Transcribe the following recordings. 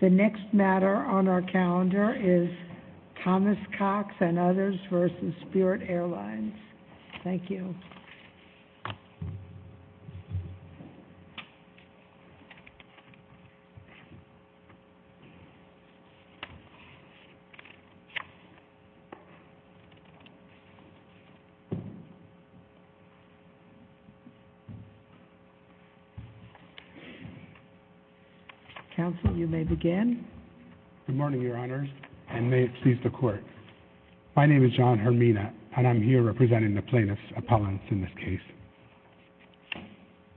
The next matter on our calendar is Thomas Cox and others v. Spirit Airlines. Thank you. Counsel, you may begin. Good morning, Your Honors, and may it please the Court. My name is John Hermina, and I'm here representing the plaintiff's appellants in this case.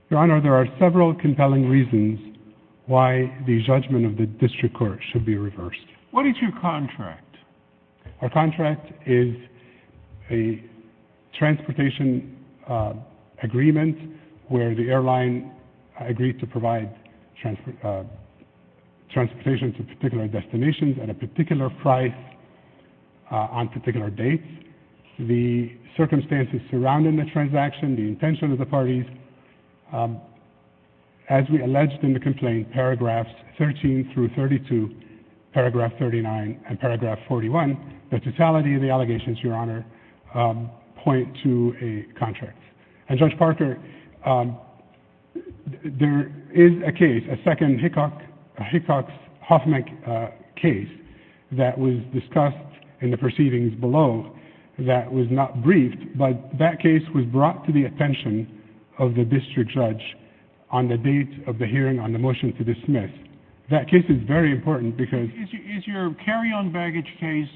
Your Honor, there are several compelling reasons why the judgment of the District Court should be reversed. What is your contract? Our contract is a transportation agreement where the airline agreed to provide transportation to particular destinations at a particular price on particular dates. The circumstances surrounding the transaction, the intention of the parties, as we alleged in the complaint, paragraphs 13 through 32, paragraph 39, and paragraph 41, the totality of the allegations, Your Honor, point to a contract. And, Judge Parker, there is a case, a second Hickox-Hoffman case that was discussed in the proceedings below that was not briefed, but that case was brought to the attention of the District Judge on the date of the hearing on the motion to dismiss. That case is very important because... Is your carry-on baggage case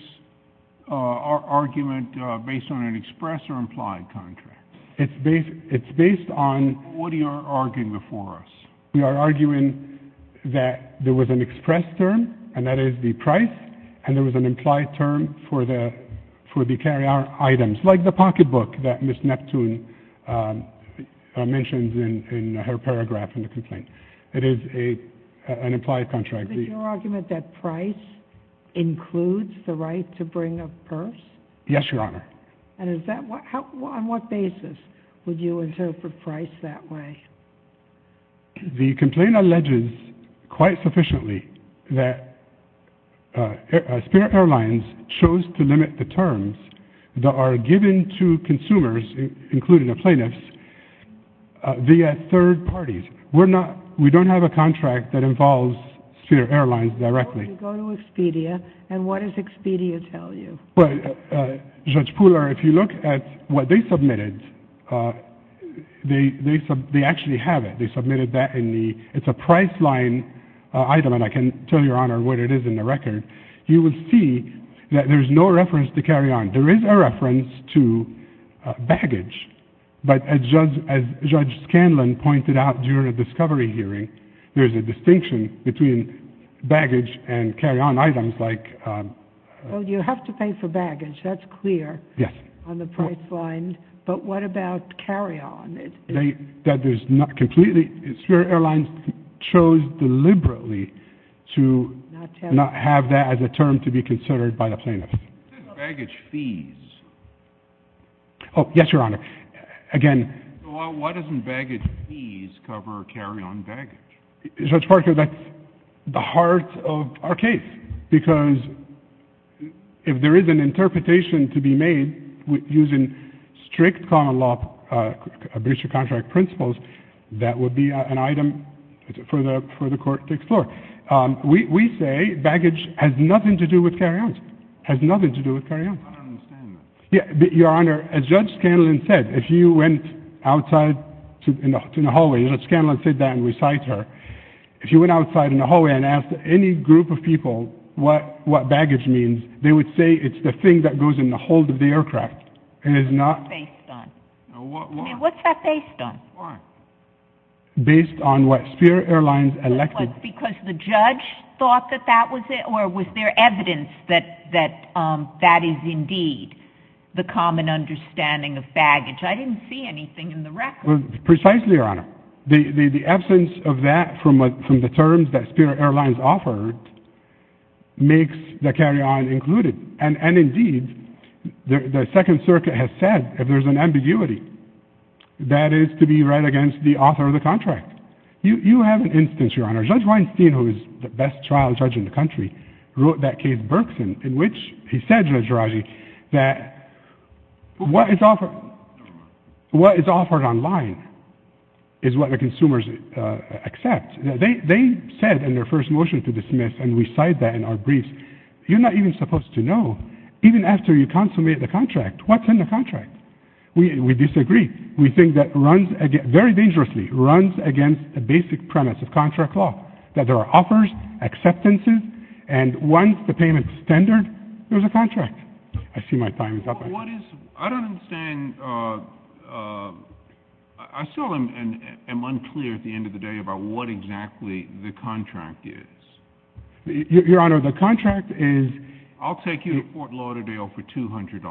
argument based on an express or implied contract? It's based on... What are you arguing before us? We are arguing that there was an express term, and that is the price, and there was an implied term for the carry-on items, like the pocketbook that Ms. Neptune mentions in her paragraph in the complaint. It is an implied contract. Is your argument that price includes the right to bring a purse? Yes, Your Honor. And is that... On what basis would you interpret price that way? The complaint alleges quite sufficiently that Spirit Airlines chose to limit the terms that are given to consumers, including the plaintiffs, via third parties. We're not... We don't have a contract that involves Spirit Airlines directly. Go to Expedia, and what does Expedia tell you? Well, Judge Pooler, if you look at what they submitted, they actually have it. They submitted that in the... It's a price line item, and I can tell Your Honor what it is in the record. You will see that there is no reference to carry-on. There is a reference to baggage, but as Judge Scanlon pointed out during the discovery hearing, there is a distinction between baggage and carry-on items, like... Well, you have to pay for baggage. That's clear. Yes. On the price line. But what about carry-on? That there's not completely... Spirit Airlines chose deliberately to not have that as a term to be considered by the plaintiffs. What about baggage fees? Oh, yes, Your Honor. Again... Well, why doesn't baggage fees cover carry-on baggage? Judge Parker, that's the heart of our case, because if there is an interpretation to be made using strict common law breach of contract principles, that would be an item for the court to explore. We say baggage has nothing to do with carry-ons. It has nothing to do with carry-ons. I don't understand that. Your Honor, as Judge Scanlon said, if you went outside in the hallway... You know, Scanlon said that in recital. If you went outside in the hallway and asked any group of people what baggage means, they would say it's the thing that goes in the hold of the aircraft. What's that based on? What? I mean, what's that based on? What? Based on what Spirit Airlines elected... Was it because the judge thought that that was it, or was there evidence that that is indeed the common understanding of baggage? I didn't see anything in the record. Precisely, Your Honor. The absence of that from the terms that Spirit Airlines offered makes the carry-on included. And indeed, the Second Circuit has said, if there's an ambiguity, that is to be read against the author of the contract. You have an instance, Your Honor. Judge Weinstein, who is the best trial judge in the country, wrote that case, Berkson, in which he said, Judge Raji, that what is offered online is what the consumers accept. They said in their first motion to dismiss, and we cite that in our briefs, you're not even supposed to know, even after you consummate the contract, what's in the contract. We disagree. We think that very dangerously runs against the basic premise of contract law, that there are offers, acceptances, and once the payment is tendered, there's a contract. I see my time is up. I don't understand. I still am unclear at the end of the day about what exactly the contract is. Your Honor, the contract is... I'll take you to Fort Lauderdale for $200.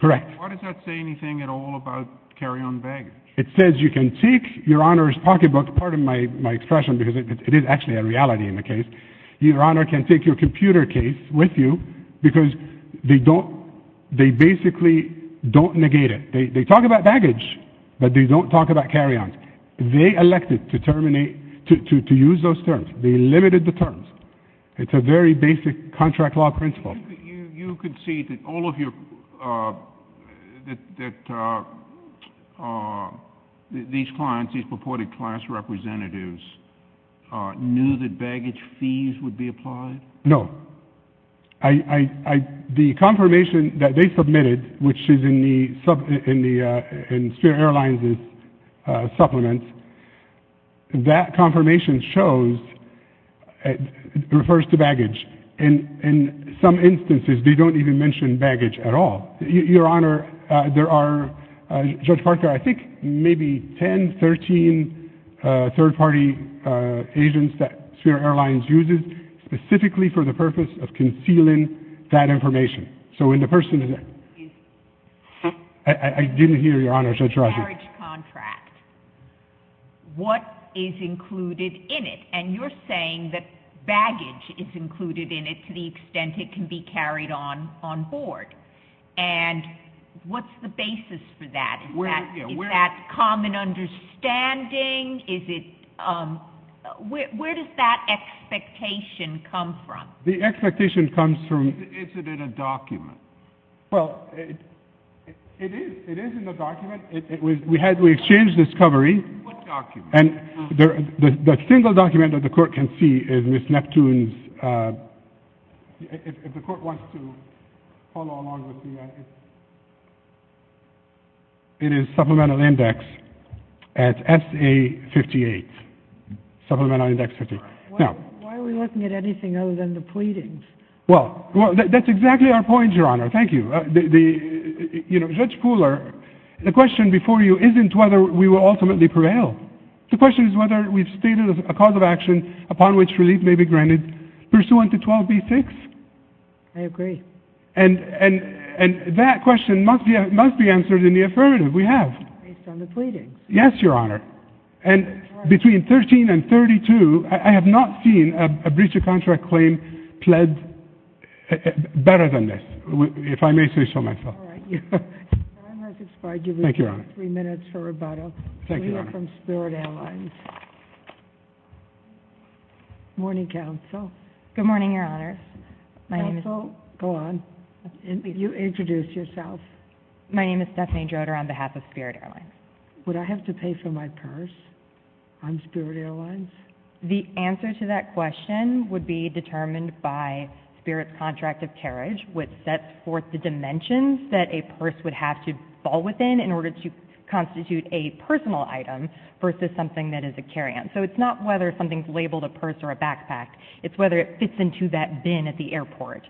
Correct. Why does that say anything at all about carry-on baggage? It says you can take Your Honor's pocketbook. Pardon my expression, because it is actually a reality in the case. Your Honor can take your computer case with you, because they basically don't negate it. They talk about baggage, but they don't talk about carry-ons. They elected to use those terms. They limited the terms. It's a very basic contract law principle. You concede that all of your... that these clients, these purported class representatives, knew that baggage fees would be applied? No. The confirmation that they submitted, which is in Sphere Airlines' supplement, that confirmation shows, refers to baggage. In some instances, they don't even mention baggage at all. Your Honor, there are, Judge Parker, I think maybe 10, 13 third-party agents that Sphere Airlines uses specifically for the purpose of concealing that information. So when the person is... Excuse me. I didn't hear, Your Honor. What is included in it? And you're saying that baggage is included in it to the extent it can be carried on board. And what's the basis for that? Is that common understanding? Is it... Where does that expectation come from? The expectation comes from... Is it in a document? Well, it is. It is in the document. We exchanged this covering. What document? The single document that the Court can see is Ms. Neptune's... If the Court wants to follow along with the... It is Supplemental Index at S.A. 58. Supplemental Index 58. Why are we looking at anything other than the pleadings? Well, that's exactly our point, Your Honor. Thank you. You know, Judge Pooler, the question before you isn't whether we will ultimately prevail. The question is whether we've stated a cause of action upon which relief may be granted pursuant to 12b-6. I agree. And that question must be answered in the affirmative. We have. Based on the pleadings. Yes, Your Honor. And between 13 and 32, I have not seen a breach of contract claim pled better than this, if I may say so myself. All right. Your Honor, if it's fine, I'll give you three minutes for rebuttal. Thank you, Your Honor. We have from Spirit Airlines. Morning, Counsel. Good morning, Your Honor. Counsel, go on. You introduce yourself. My name is Stephanie Joder on behalf of Spirit Airlines. Would I have to pay for my purse on Spirit Airlines? The answer to that question would be determined by Spirit's contract of carriage, which sets forth the dimensions that a purse would have to fall within in order to constitute a personal item versus something that is a carry-on. So it's not whether something's labeled a purse or a backpack. It's whether it fits into that bin at the airport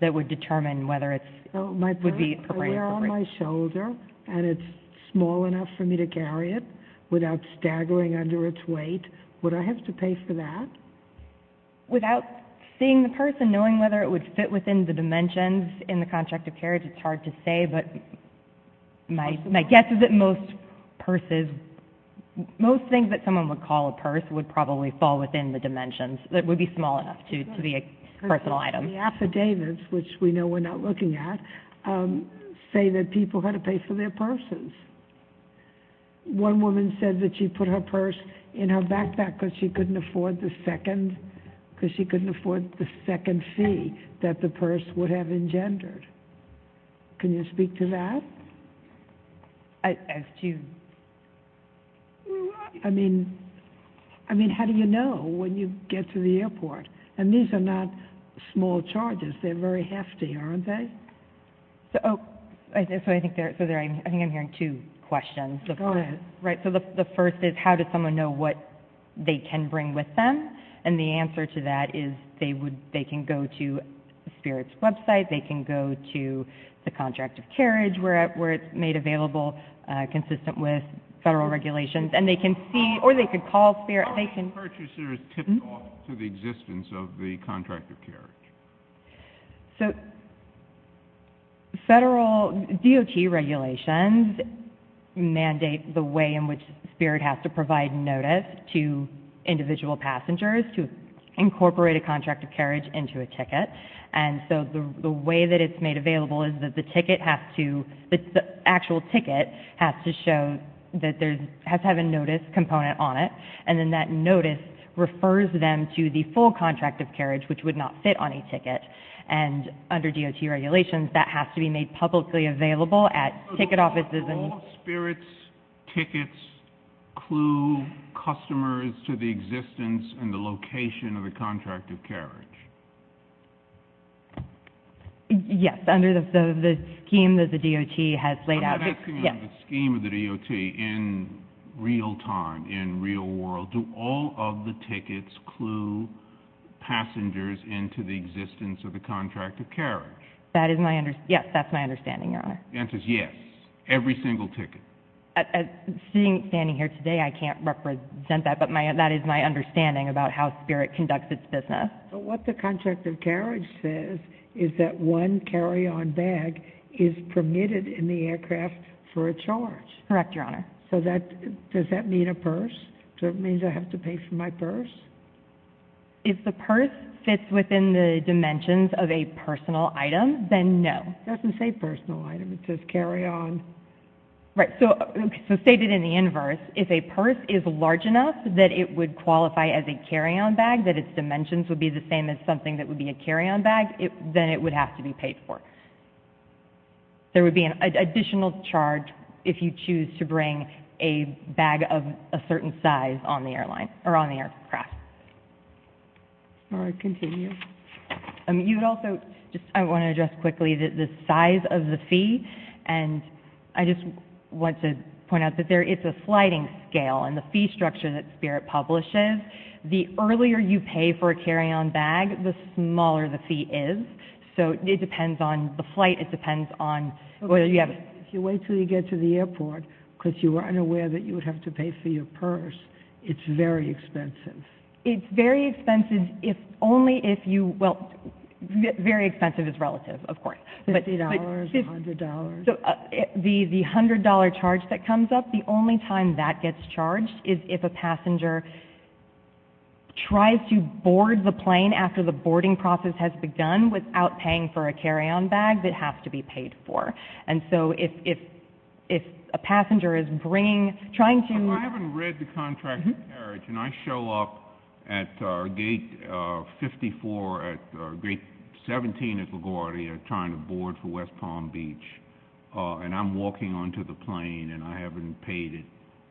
that would determine whether it would be appropriate. If I have a pair on my shoulder and it's small enough for me to carry it without staggering under its weight, would I have to pay for that? Without seeing the purse and knowing whether it would fit within the dimensions in the contract of carriage, it's hard to say. But my guess is that most purses, most things that someone would call a purse would probably fall within the dimensions. It would be small enough to be a personal item. The affidavits, which we know we're not looking at, say that people had to pay for their purses. One woman said that she put her purse in her backpack because she couldn't afford the second fee that the purse would have engendered. Can you speak to that? I assume. I mean, how do you know when you get to the airport? And these are not small charges. They're very hefty, aren't they? So I think I'm hearing two questions. Go ahead. Right. So the first is how does someone know what they can bring with them? And the answer to that is they can go to SPIRT's website. They can go to the contract of carriage where it's made available consistent with federal regulations. And they can see or they could call SPIRT. How are purchasers tipped off to the existence of the contract of carriage? So federal DOT regulations mandate the way in which SPIRT has to provide notice to individual passengers to incorporate a contract of carriage into a ticket. And so the way that it's made available is that the ticket has to, the actual ticket has to show that there's, has to have a notice component on it. And then that notice refers them to the full contract of carriage, which would not fit on a ticket. And under DOT regulations, that has to be made publicly available at ticket offices and So all SPIRT's tickets clue customers to the existence and the location of the contract of carriage? Yes. Under the scheme that the DOT has laid out. But I'm asking under the scheme of the DOT in real time, in real world, do all of the tickets clue passengers into the existence of the contract of carriage? That is my, yes, that's my understanding, Your Honor. The answer is yes. Every single ticket. Standing here today, I can't represent that, but that is my understanding about how SPIRT conducts its business. So what the contract of carriage says is that one carry-on bag is permitted in the aircraft for a charge? Correct, Your Honor. So that, does that mean a purse? So it means I have to pay for my purse? If the purse fits within the dimensions of a personal item, then no. It doesn't say personal item. It says carry-on. Right. So stated in the inverse, if a purse is large enough that it would qualify as a carry-on bag, that its dimensions would be the same as something that would be a carry-on bag, then it would have to be paid for. There would be an additional charge if you choose to bring a bag of a certain size on the airline, or on the aircraft. All right, continue. You would also, I want to address quickly the size of the fee, and I just want to point out that it's a sliding scale in the fee structure that SPIRT publishes. The earlier you pay for a carry-on bag, the smaller the fee is. So it depends on the flight. It depends on whether you have it. If you wait until you get to the airport because you were unaware that you would have to pay for your purse, it's very expensive. It's very expensive if only if you, well, very expensive is relative, of course. $50, $100. The $100 charge that comes up, the only time that gets charged is if a passenger tries to board the plane after the boarding process has begun without paying for a carry-on bag that has to be paid for. And so if a passenger is bringing, trying to – And I show up at gate 54, at gate 17 at LaGuardia, trying to board for West Palm Beach, and I'm walking onto the plane and I haven't paid it.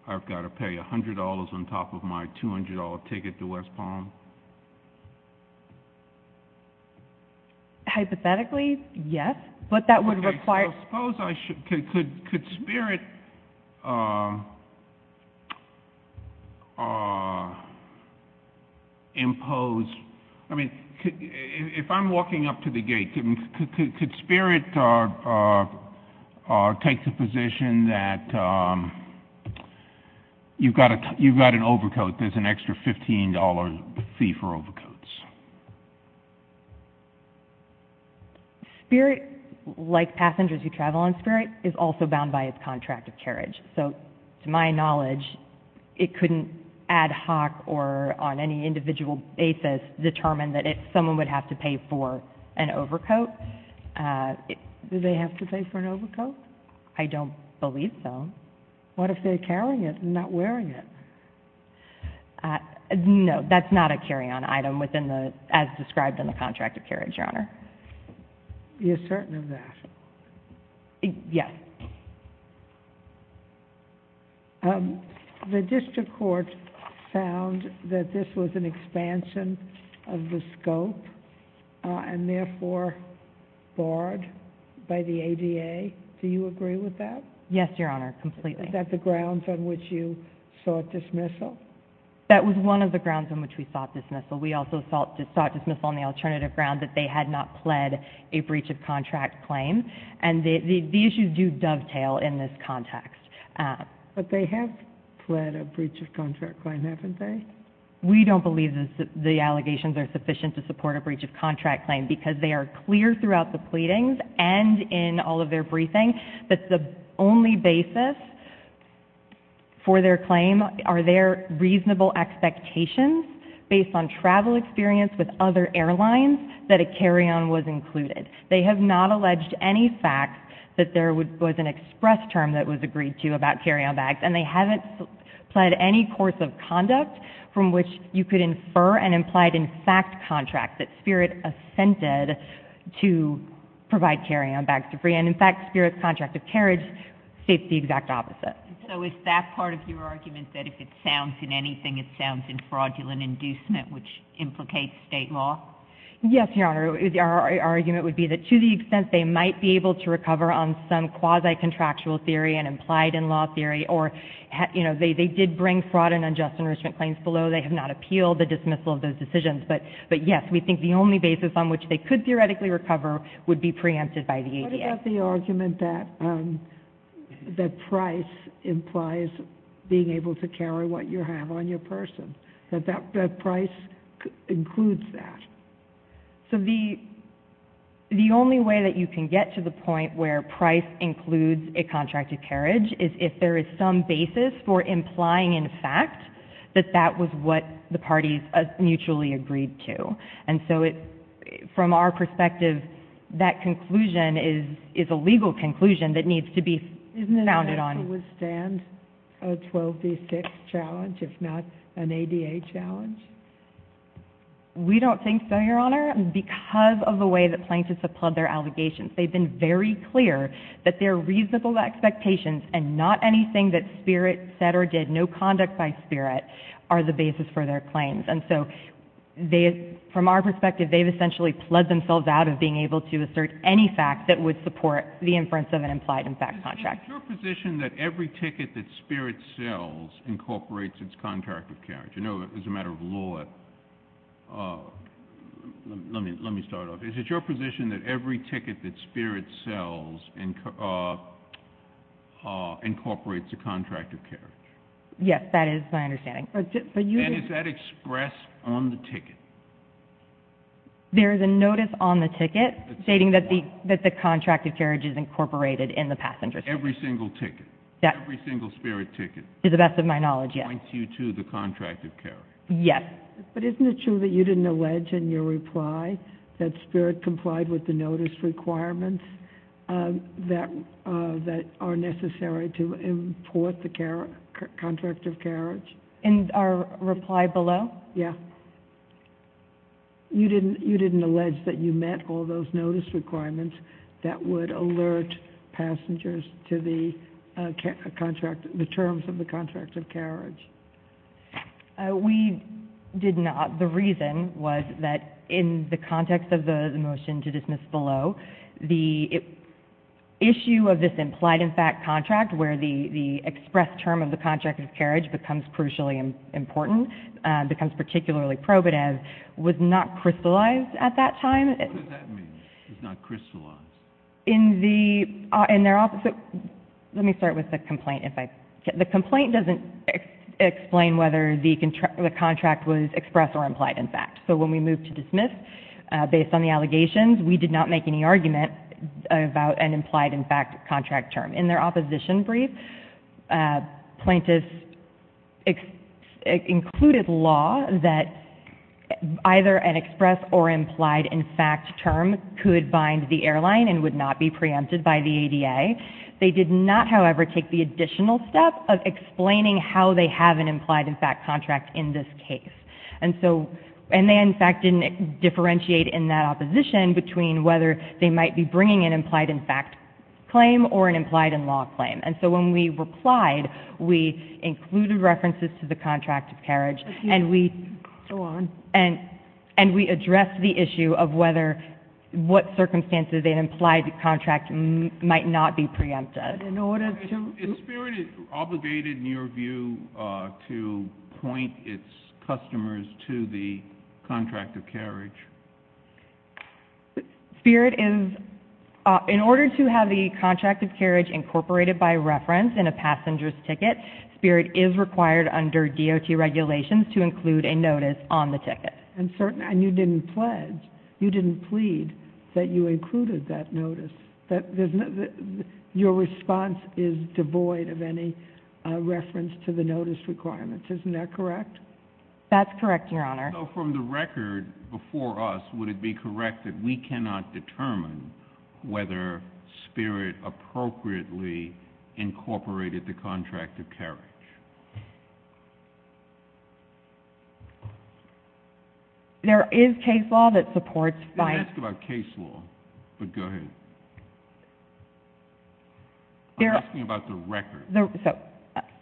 I've got to pay $100 on top of my $200 ticket to West Palm? Hypothetically, yes, but that would require – Well, suppose I should – could Spirit impose – I mean, if I'm walking up to the gate, could Spirit take the position that you've got an overcoat, there's an extra $15 fee for overcoats? Spirit, like passengers who travel on Spirit, is also bound by its contract of carriage. So to my knowledge, it couldn't ad hoc or on any individual basis determine that someone would have to pay for an overcoat. Do they have to pay for an overcoat? I don't believe so. What if they're carrying it and not wearing it? No, that's not a carry-on item within the – as described in the contract of carriage, Your Honor. You're certain of that? Yes. The district court found that this was an expansion of the scope and therefore barred by the ADA. Do you agree with that? Yes, Your Honor, completely. Is that the grounds on which you sought dismissal? That was one of the grounds on which we sought dismissal. We also sought dismissal on the alternative ground that they had not pled a breach of contract claim. And the issues do dovetail in this context. But they have pled a breach of contract claim, haven't they? We don't believe the allegations are sufficient to support a breach of contract claim because they are clear throughout the pleadings and in all of their briefings that the only basis for their claim are their reasonable expectations based on travel experience with other airlines that a carry-on was included. They have not alleged any fact that there was an express term that was agreed to about carry-on bags. And they haven't pled any course of conduct from which you could infer and implied in fact contract that Spirit assented to provide carry-on bags for free. And in fact Spirit's contract of carriage states the exact opposite. So is that part of your argument that if it sounds in anything, it sounds in fraudulent inducement which implicates state law? Yes, Your Honor. Our argument would be that to the extent they might be able to recover on some quasi-contractual theory and implied in law theory or, you know, they did bring fraud and unjust enrichment claims below. They have not appealed the dismissal of those decisions. But yes, we think the only basis on which they could theoretically recover would be preempted by the ADA. What about the argument that price implies being able to carry what you have on your person, that price includes that? So the only way that you can get to the point where price includes a contract of carriage is if there is some basis for implying in fact that that was what the parties mutually agreed to. And so from our perspective, that conclusion is a legal conclusion that needs to be founded on. Isn't it possible to withstand a 12D6 challenge if not an ADA challenge? We don't think so, Your Honor, because of the way that plaintiffs have pled their allegations. They've been very clear that they're reasonable expectations and not anything that Spirit said or did, no conduct by Spirit, are the basis for their claims. And so from our perspective, they've essentially pled themselves out of being able to assert any fact that would support the inference of an implied in fact contract. Is it your position that every ticket that Spirit sells incorporates its contract of carriage? You know, as a matter of law, let me start off. Is it your position that every ticket that Spirit sells incorporates a contract of carriage? Yes, that is my understanding. And is that expressed on the ticket? There is a notice on the ticket stating that the contract of carriage is incorporated in the passenger's ticket. Every single ticket? Yes. Every single Spirit ticket? To the best of my knowledge, yes. Appoints you to the contract of carriage? Yes. But isn't it true that you didn't allege in your reply that Spirit complied with the notice requirements that are necessary to import the contract of carriage? In our reply below? Yes. You didn't allege that you met all those notice requirements that would alert passengers to the terms of the contract of carriage? We did not. The reason was that in the context of the motion to dismiss below, the issue of this implied-in-fact contract where the expressed term of the contract of carriage becomes crucially important, becomes particularly probative, was not crystallized at that time. What does that mean, was not crystallized? Let me start with the complaint. The complaint doesn't explain whether the contract was expressed or implied-in-fact. So when we moved to dismiss, based on the allegations, we did not make any argument about an implied-in-fact contract term. In their opposition brief, plaintiffs included law that either an expressed or implied-in-fact term could bind the airline and would not be preempted by the ADA. They did not, however, take the additional step of explaining how they have an implied-in-fact contract in this case. And they, in fact, didn't differentiate in that opposition between whether they might be bringing an implied-in-fact claim or an implied-in-law claim. And so when we replied, we included references to the contract of carriage and we addressed the issue of what circumstances an implied contract might not be preempted. Is Spirit obligated, in your view, to point its customers to the contract of carriage? Spirit is... In order to have the contract of carriage incorporated by reference in a passenger's ticket, Spirit is required under DOT regulations to include a notice on the ticket. And you didn't pledge, you didn't plead that you included that notice. Your response is devoid of any reference to the notice requirements. Isn't that correct? That's correct, Your Honor. So from the record before us, would it be correct that we cannot determine whether Spirit appropriately incorporated the contract of carriage? There is case law that supports... I didn't ask about case law, but go ahead. I'm asking about the record.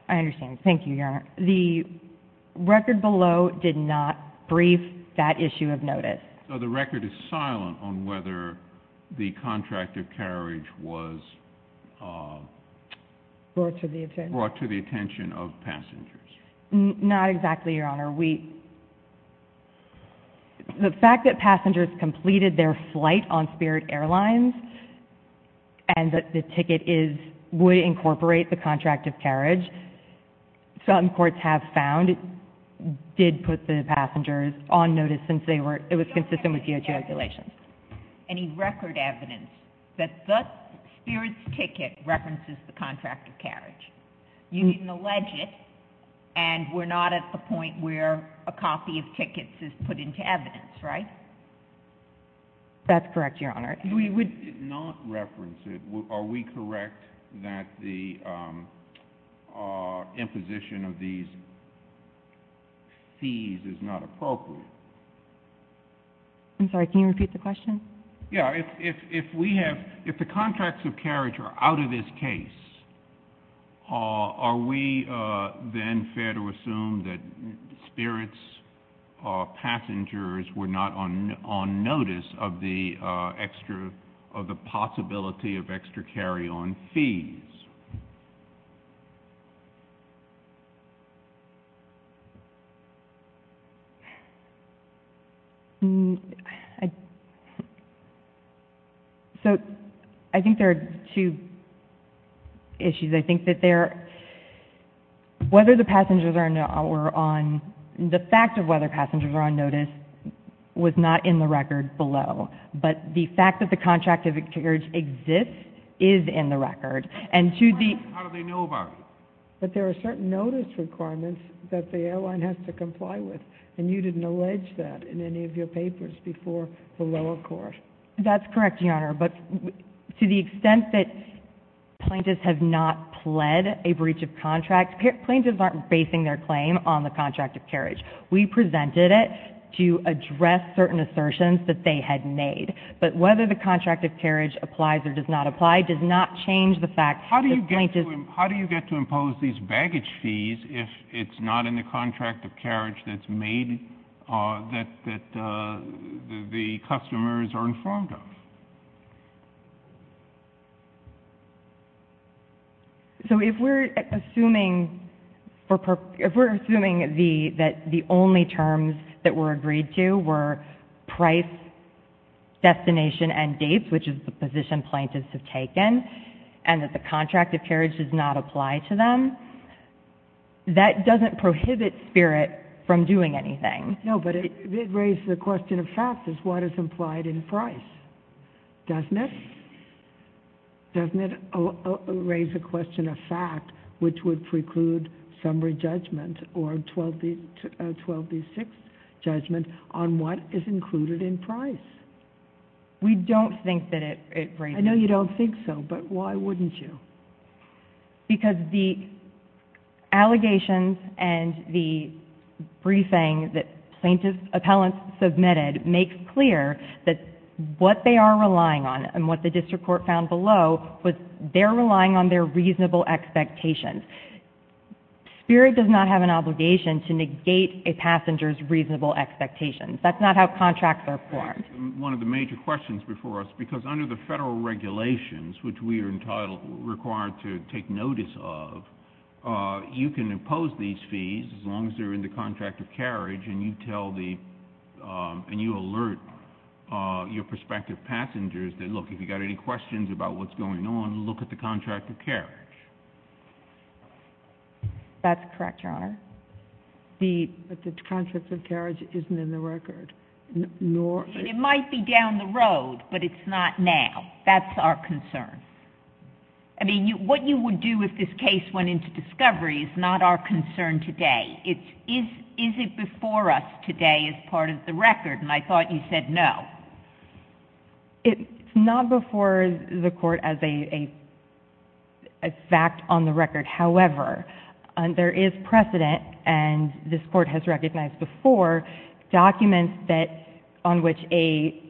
I understand. Thank you, Your Honor. The record below did not brief that issue of notice. So the record is silent on whether the contract of carriage was... Brought to the attention... Brought to the attention of passengers. Not exactly, Your Honor. The fact that passengers completed their flight on Spirit Airlines and that the ticket would incorporate the contract of carriage, some courts have found it did put the passengers on notice since it was consistent with DOT regulations. Any record evidence that the Spirit's ticket references the contract of carriage? You can allege it, and we're not at the point where a copy of tickets is put into evidence, right? That's correct, Your Honor. It did not reference it. Are we correct that the imposition of these fees is not appropriate? I'm sorry, can you repeat the question? If the contracts of carriage are out of this case, are we then fair to assume that Spirit's passengers were not on notice of the possibility of extra carry-on fees? So I think there are two issues. I think that whether the passengers were on... The fact of whether passengers were on notice was not in the record below, but the fact that the contract of carriage exists is in the record, and to the... How do they know about it? But there are certain notice requirements that the airline has to comply with, and you didn't allege that in any of your papers before the lower court. That's correct, Your Honor, but to the extent that plaintiffs have not pled a breach of contract, plaintiffs aren't basing their claim on the contract of carriage. We presented it to address certain assertions that they had made, but whether the contract of carriage applies or does not apply does not change the fact that plaintiffs... How do you get to impose these baggage fees if it's not in the contract of carriage that's made, that the customers are informed of? So if we're assuming that the only terms that were agreed to were price, destination, and dates, which is the position plaintiffs have taken, and that the contract of carriage does not apply to them, that doesn't prohibit Spirit from doing anything. No, but it raises a question of fact as to what is implied in price. Doesn't it? Doesn't it raise a question of fact which would preclude summary judgment or 12D6 judgment on what is included in price? We don't think that it raises... I know you don't think so, but why wouldn't you? Because the allegations and the briefing that plaintiffs' appellants submitted makes clear that what they are relying on and what the district court found below was they're relying on their reasonable expectations. Spirit does not have an obligation to negate a passenger's reasonable expectations. That's not how contracts are formed. One of the major questions before us, because under the federal regulations, which we are required to take notice of, you can impose these fees as long as they're in the contract of carriage, and you tell the... and you alert your prospective passengers that, look, if you've got any questions about what's going on, look at the contract of carriage. That's correct, Your Honor. But the contract of carriage isn't in the record, nor... It might be down the road, but it's not now. That's our concern. I mean, what you would do if this case went into discovery is not our concern today. It's, is it before us today as part of the record? And I thought you said no. It's not before the court as a fact on the record. However, there is precedent, and this court has recognized before, documents that, on which a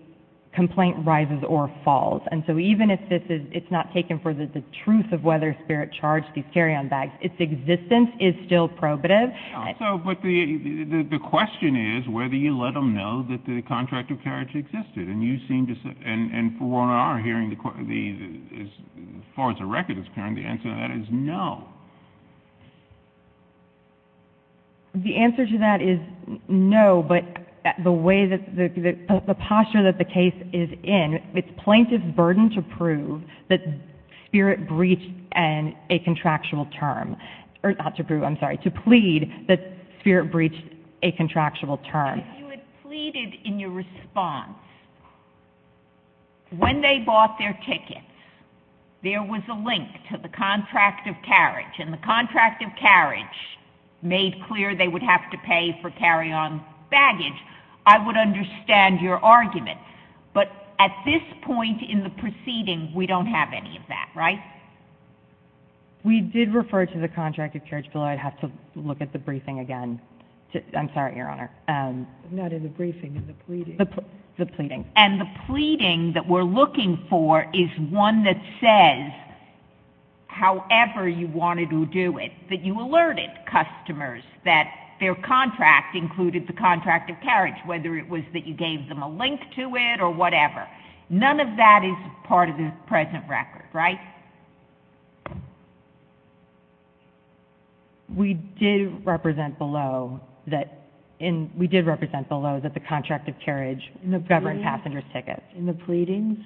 complaint rises or falls. And so even if it's not taken for the truth of whether Spirit charged these carry-on bags, its existence is still probative. But the question is whether you let them know that the contract of carriage existed, and you seem to... and for one of our hearing the... as far as the record is concerned, the answer to that is no. The answer to that is no, but the way that... the posture that the case is in, it's plaintiff's burden to prove that Spirit breached a contractual term, or not to prove, I'm sorry, to plead that Spirit breached a contractual term. If you had pleaded in your response when they bought their tickets, there was a link to the contract of carriage, and the contract of carriage made clear they would have to pay for carry-on baggage, I would understand your argument. But at this point in the proceeding, we don't have any of that, right? We did refer to the contract of carriage, but I'd have to look at the briefing again. I'm sorry, Your Honor. Not in the briefing, in the pleading. The pleading. And the pleading that we're looking for is one that says, however you wanted to do it, that you alerted customers that their contract included the contract of carriage, whether it was that you gave them a link to it or whatever. None of that is part of the present record, right? We did represent below that the contract of carriage governed passenger tickets. In the pleadings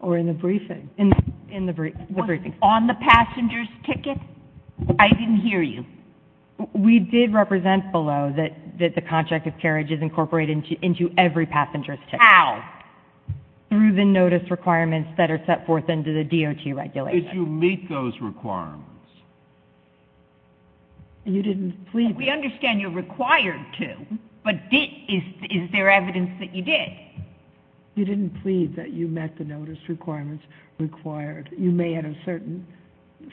or in the briefing? In the briefings. On the passenger's ticket? I didn't hear you. We did represent below that the contract of carriage is incorporated into every passenger's ticket. How? Through the notice requirements that are set forth under the DOT regulations. Did you meet those requirements? You didn't plead. We understand you're required to, but is there evidence that you did? You didn't plead that you met the notice requirements required. You may at a certain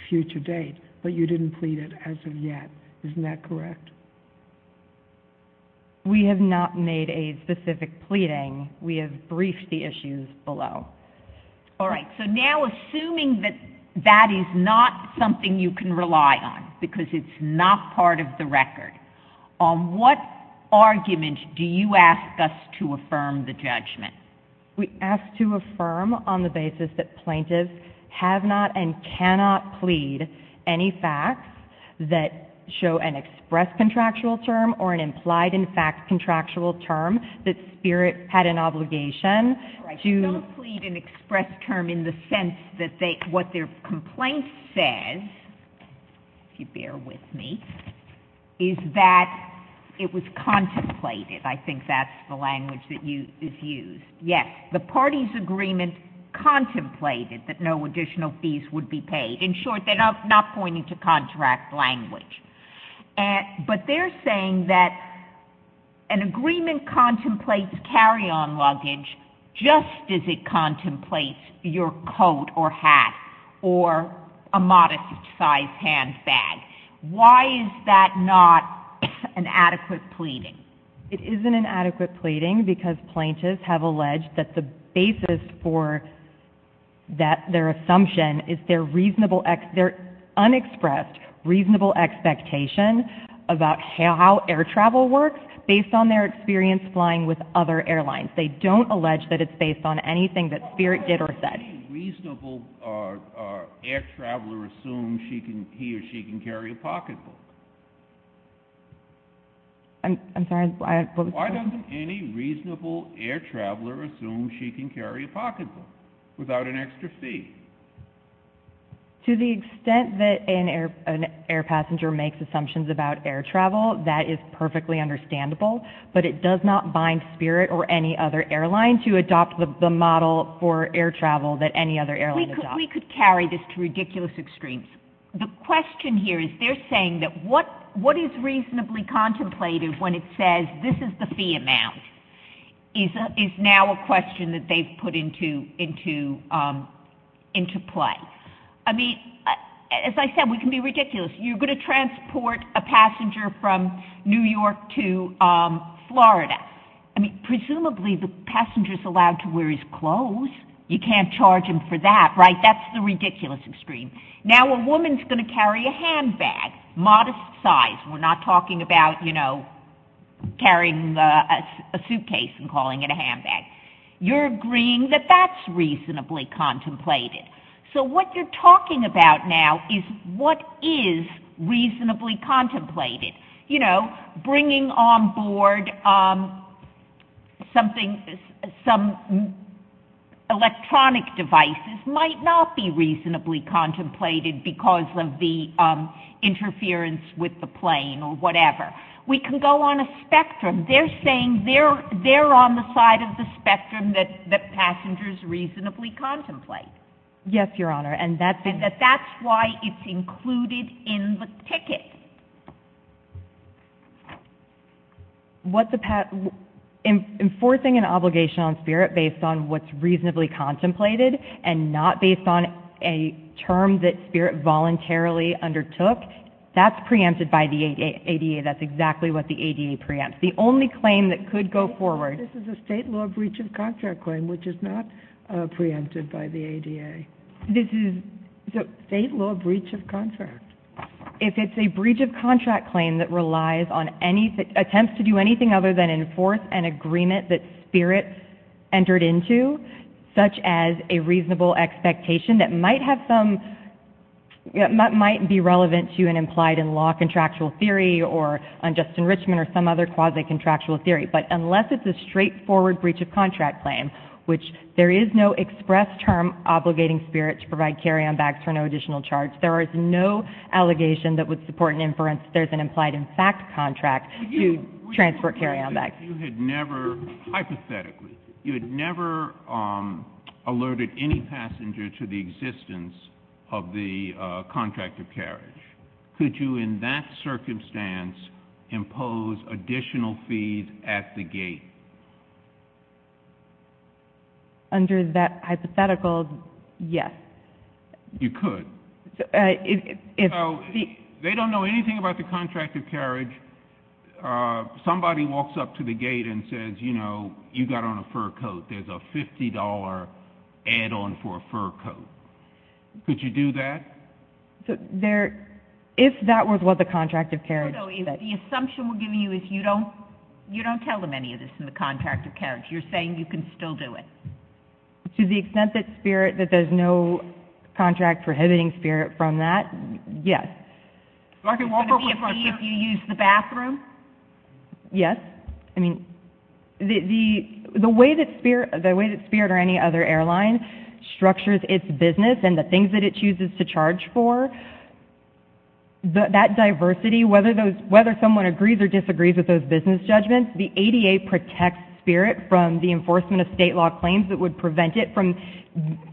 future date, but you didn't plead it as of yet. Isn't that correct? We have not made a specific pleading. We have briefed the issues below. All right. So now assuming that that is not something you can rely on because it's not part of the record, on what argument do you ask us to affirm the judgment? We ask to affirm on the basis that plaintiffs have not and cannot plead any facts that show an express contractual term or an implied in fact contractual term that Spirit had an obligation to. Don't plead an express term in the sense that what their complaint says, if you bear with me, is that it was contemplated. I think that's the language that is used. Yes, the party's agreement contemplated that no additional fees would be paid. In short, they're not pointing to contract language. But they're saying that an agreement contemplates carry-on luggage just as it contemplates your coat or hat or a modest-sized handbag. Why is that not an adequate pleading? It isn't an adequate pleading because plaintiffs have alleged that the basis for their assumption is their unexpressed reasonable expectation about how air travel works based on their experience flying with other airlines. They don't allege that it's based on anything that Spirit did or said. Why doesn't any reasonable air traveler assume he or she can carry a pocketbook? I'm sorry. Why doesn't any reasonable air traveler assume she can carry a pocketbook without an extra fee? To the extent that an air passenger makes assumptions about air travel, that is perfectly understandable. But it does not bind Spirit or any other airline to adopt the model for air travel that any other airline adopts. We could carry this to ridiculous extremes. The question here is they're saying that what is reasonably contemplated when it says this is the fee amount is now a question that they've put into play. I mean, as I said, we can be ridiculous. You're going to transport a passenger from New York to Florida. I mean, presumably the passenger's allowed to wear his clothes. You can't charge him for that, right? That's the ridiculous extreme. Now a woman's going to carry a handbag, modest size. We're not talking about, you know, carrying a suitcase and calling it a handbag. You're agreeing that that's reasonably contemplated. So what you're talking about now is what is reasonably contemplated. You know, bringing on board some electronic devices might not be reasonably contemplated because of the interference with the plane or whatever. We can go on a spectrum. They're saying they're on the side of the spectrum that passengers reasonably contemplate. Yes, Your Honor. And that's why it's included in the ticket. Enforcing an obligation on Spirit based on what's reasonably contemplated and not based on a term that Spirit voluntarily undertook, that's preempted by the ADA. That's exactly what the ADA preempts. The only claim that could go forward... This is a state law breach of contract claim, which is not preempted by the ADA. This is a state law breach of contract. If it's a breach of contract claim that relies on attempts to do anything other than enforce an agreement that Spirit entered into, such as a reasonable expectation that might be relevant to an implied-in-law contractual theory or just enrichment or some other quasi-contractual theory, but unless it's a straightforward breach of contract claim, which there is no express term obligating Spirit to provide carry-on bags for no additional charge, there is no allegation that would support an inference that there's an implied-in-fact contract to transfer carry-on bags. You had never, hypothetically, you had never alerted any passenger to the existence of the contract of carriage. Could you in that circumstance impose additional fees at the gate? Under that hypothetical, yes. You could. If... They don't know anything about the contract of carriage. Somebody walks up to the gate and says, you know, you got on a fur coat. There's a $50 add-on for a fur coat. Could you do that? If that was what the contract of carriage... The assumption we're giving you is you don't tell them any of this in the contract of carriage. You're saying you can still do it. To the extent that Spirit... That there's no contract prohibiting Spirit from that, yes. It's going to be a fee if you use the bathroom? Yes. I mean, the way that Spirit or any other airline structures its business and the things that it chooses to charge for, that diversity, whether someone agrees or disagrees with those business judgments, the ADA protects Spirit from the enforcement of state law claims that would prevent it from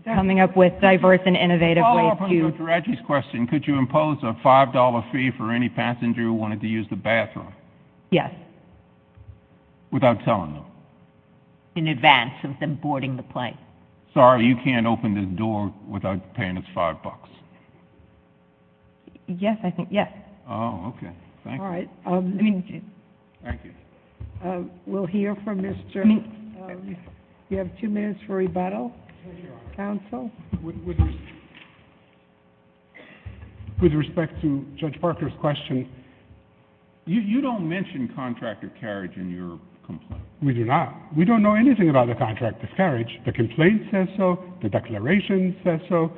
coming up with diverse and innovative ways to... To follow up on Dr Adger's question, could you impose a $5 fee for any passenger who wanted to use the bathroom? Yes. Without telling them? In advance of them boarding the plane. Sorry, you can't open the door without paying us $5. Yes, I think, yes. Oh, OK. Thank you. All right. Thank you. We'll hear from Mr... You have two minutes for rebuttal? Counsel? With respect to Judge Parker's question, you don't mention contract of carriage in your complaint. We do not. We don't know anything about the contract of carriage. The complaint says so, the declaration says so,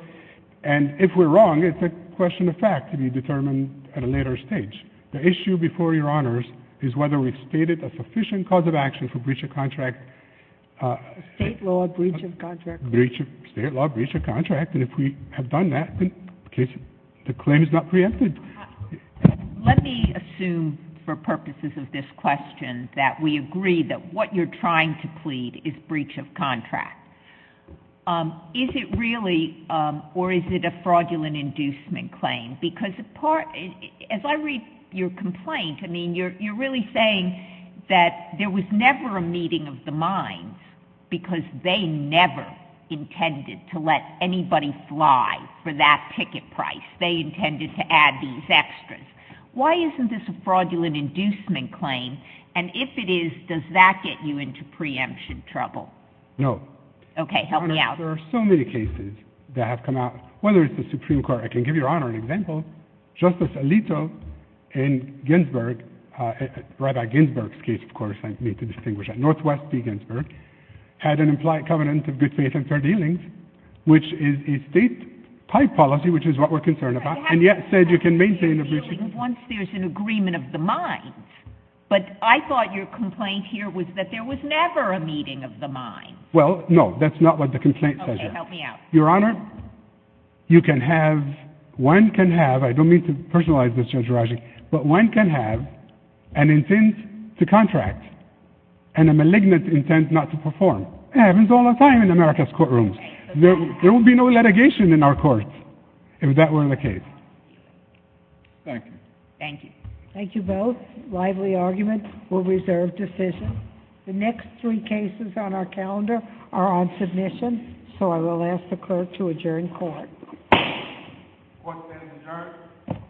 and if we're wrong, it's a question of fact that has to be determined at a later stage. The issue before Your Honours is whether we've stated a sufficient cause of action for breach of contract... State law breach of contract. State law breach of contract, and if we have done that, the claim is not preempted. Let me assume for purposes of this question that we agree that what you're trying to plead is breach of contract. Is it really, or is it a fraudulent inducement claim? Because as I read your complaint, I mean, you're really saying that there was never a meeting of the minds because they never intended to let anybody fly for that ticket price. They intended to add these extras. Why isn't this a fraudulent inducement claim? And if it is, does that get you into preemption trouble? No. Okay, help me out. Your Honours, there are so many cases that have come out, whether it's the Supreme Court, I can give Your Honour an example. Justice Alito in Ginsburg, Rabbi Ginsburg's case, of course, I need to distinguish that, Northwest v. Ginsburg, had an implied covenant of good faith and fair dealings, which is a state-type policy, which is what we're concerned about, and yet said you can maintain a breach... ...once there's an agreement of the minds. But I thought your complaint here was that there was never a meeting of the minds. Well, no, that's not what the complaint says. Okay, help me out. Your Honour, you can have... One can have... I don't mean to personalize this, Judge Rajak, but one can have an intent to contract and a malignant intent not to perform. It happens all the time in America's courtrooms. There will be no litigation in our courts if that were the case. Thank you. Thank you both. Lively arguments were reserved decisions. The next three cases on our calendar are on submission, so I will ask the clerk to adjourn court. Court is adjourned.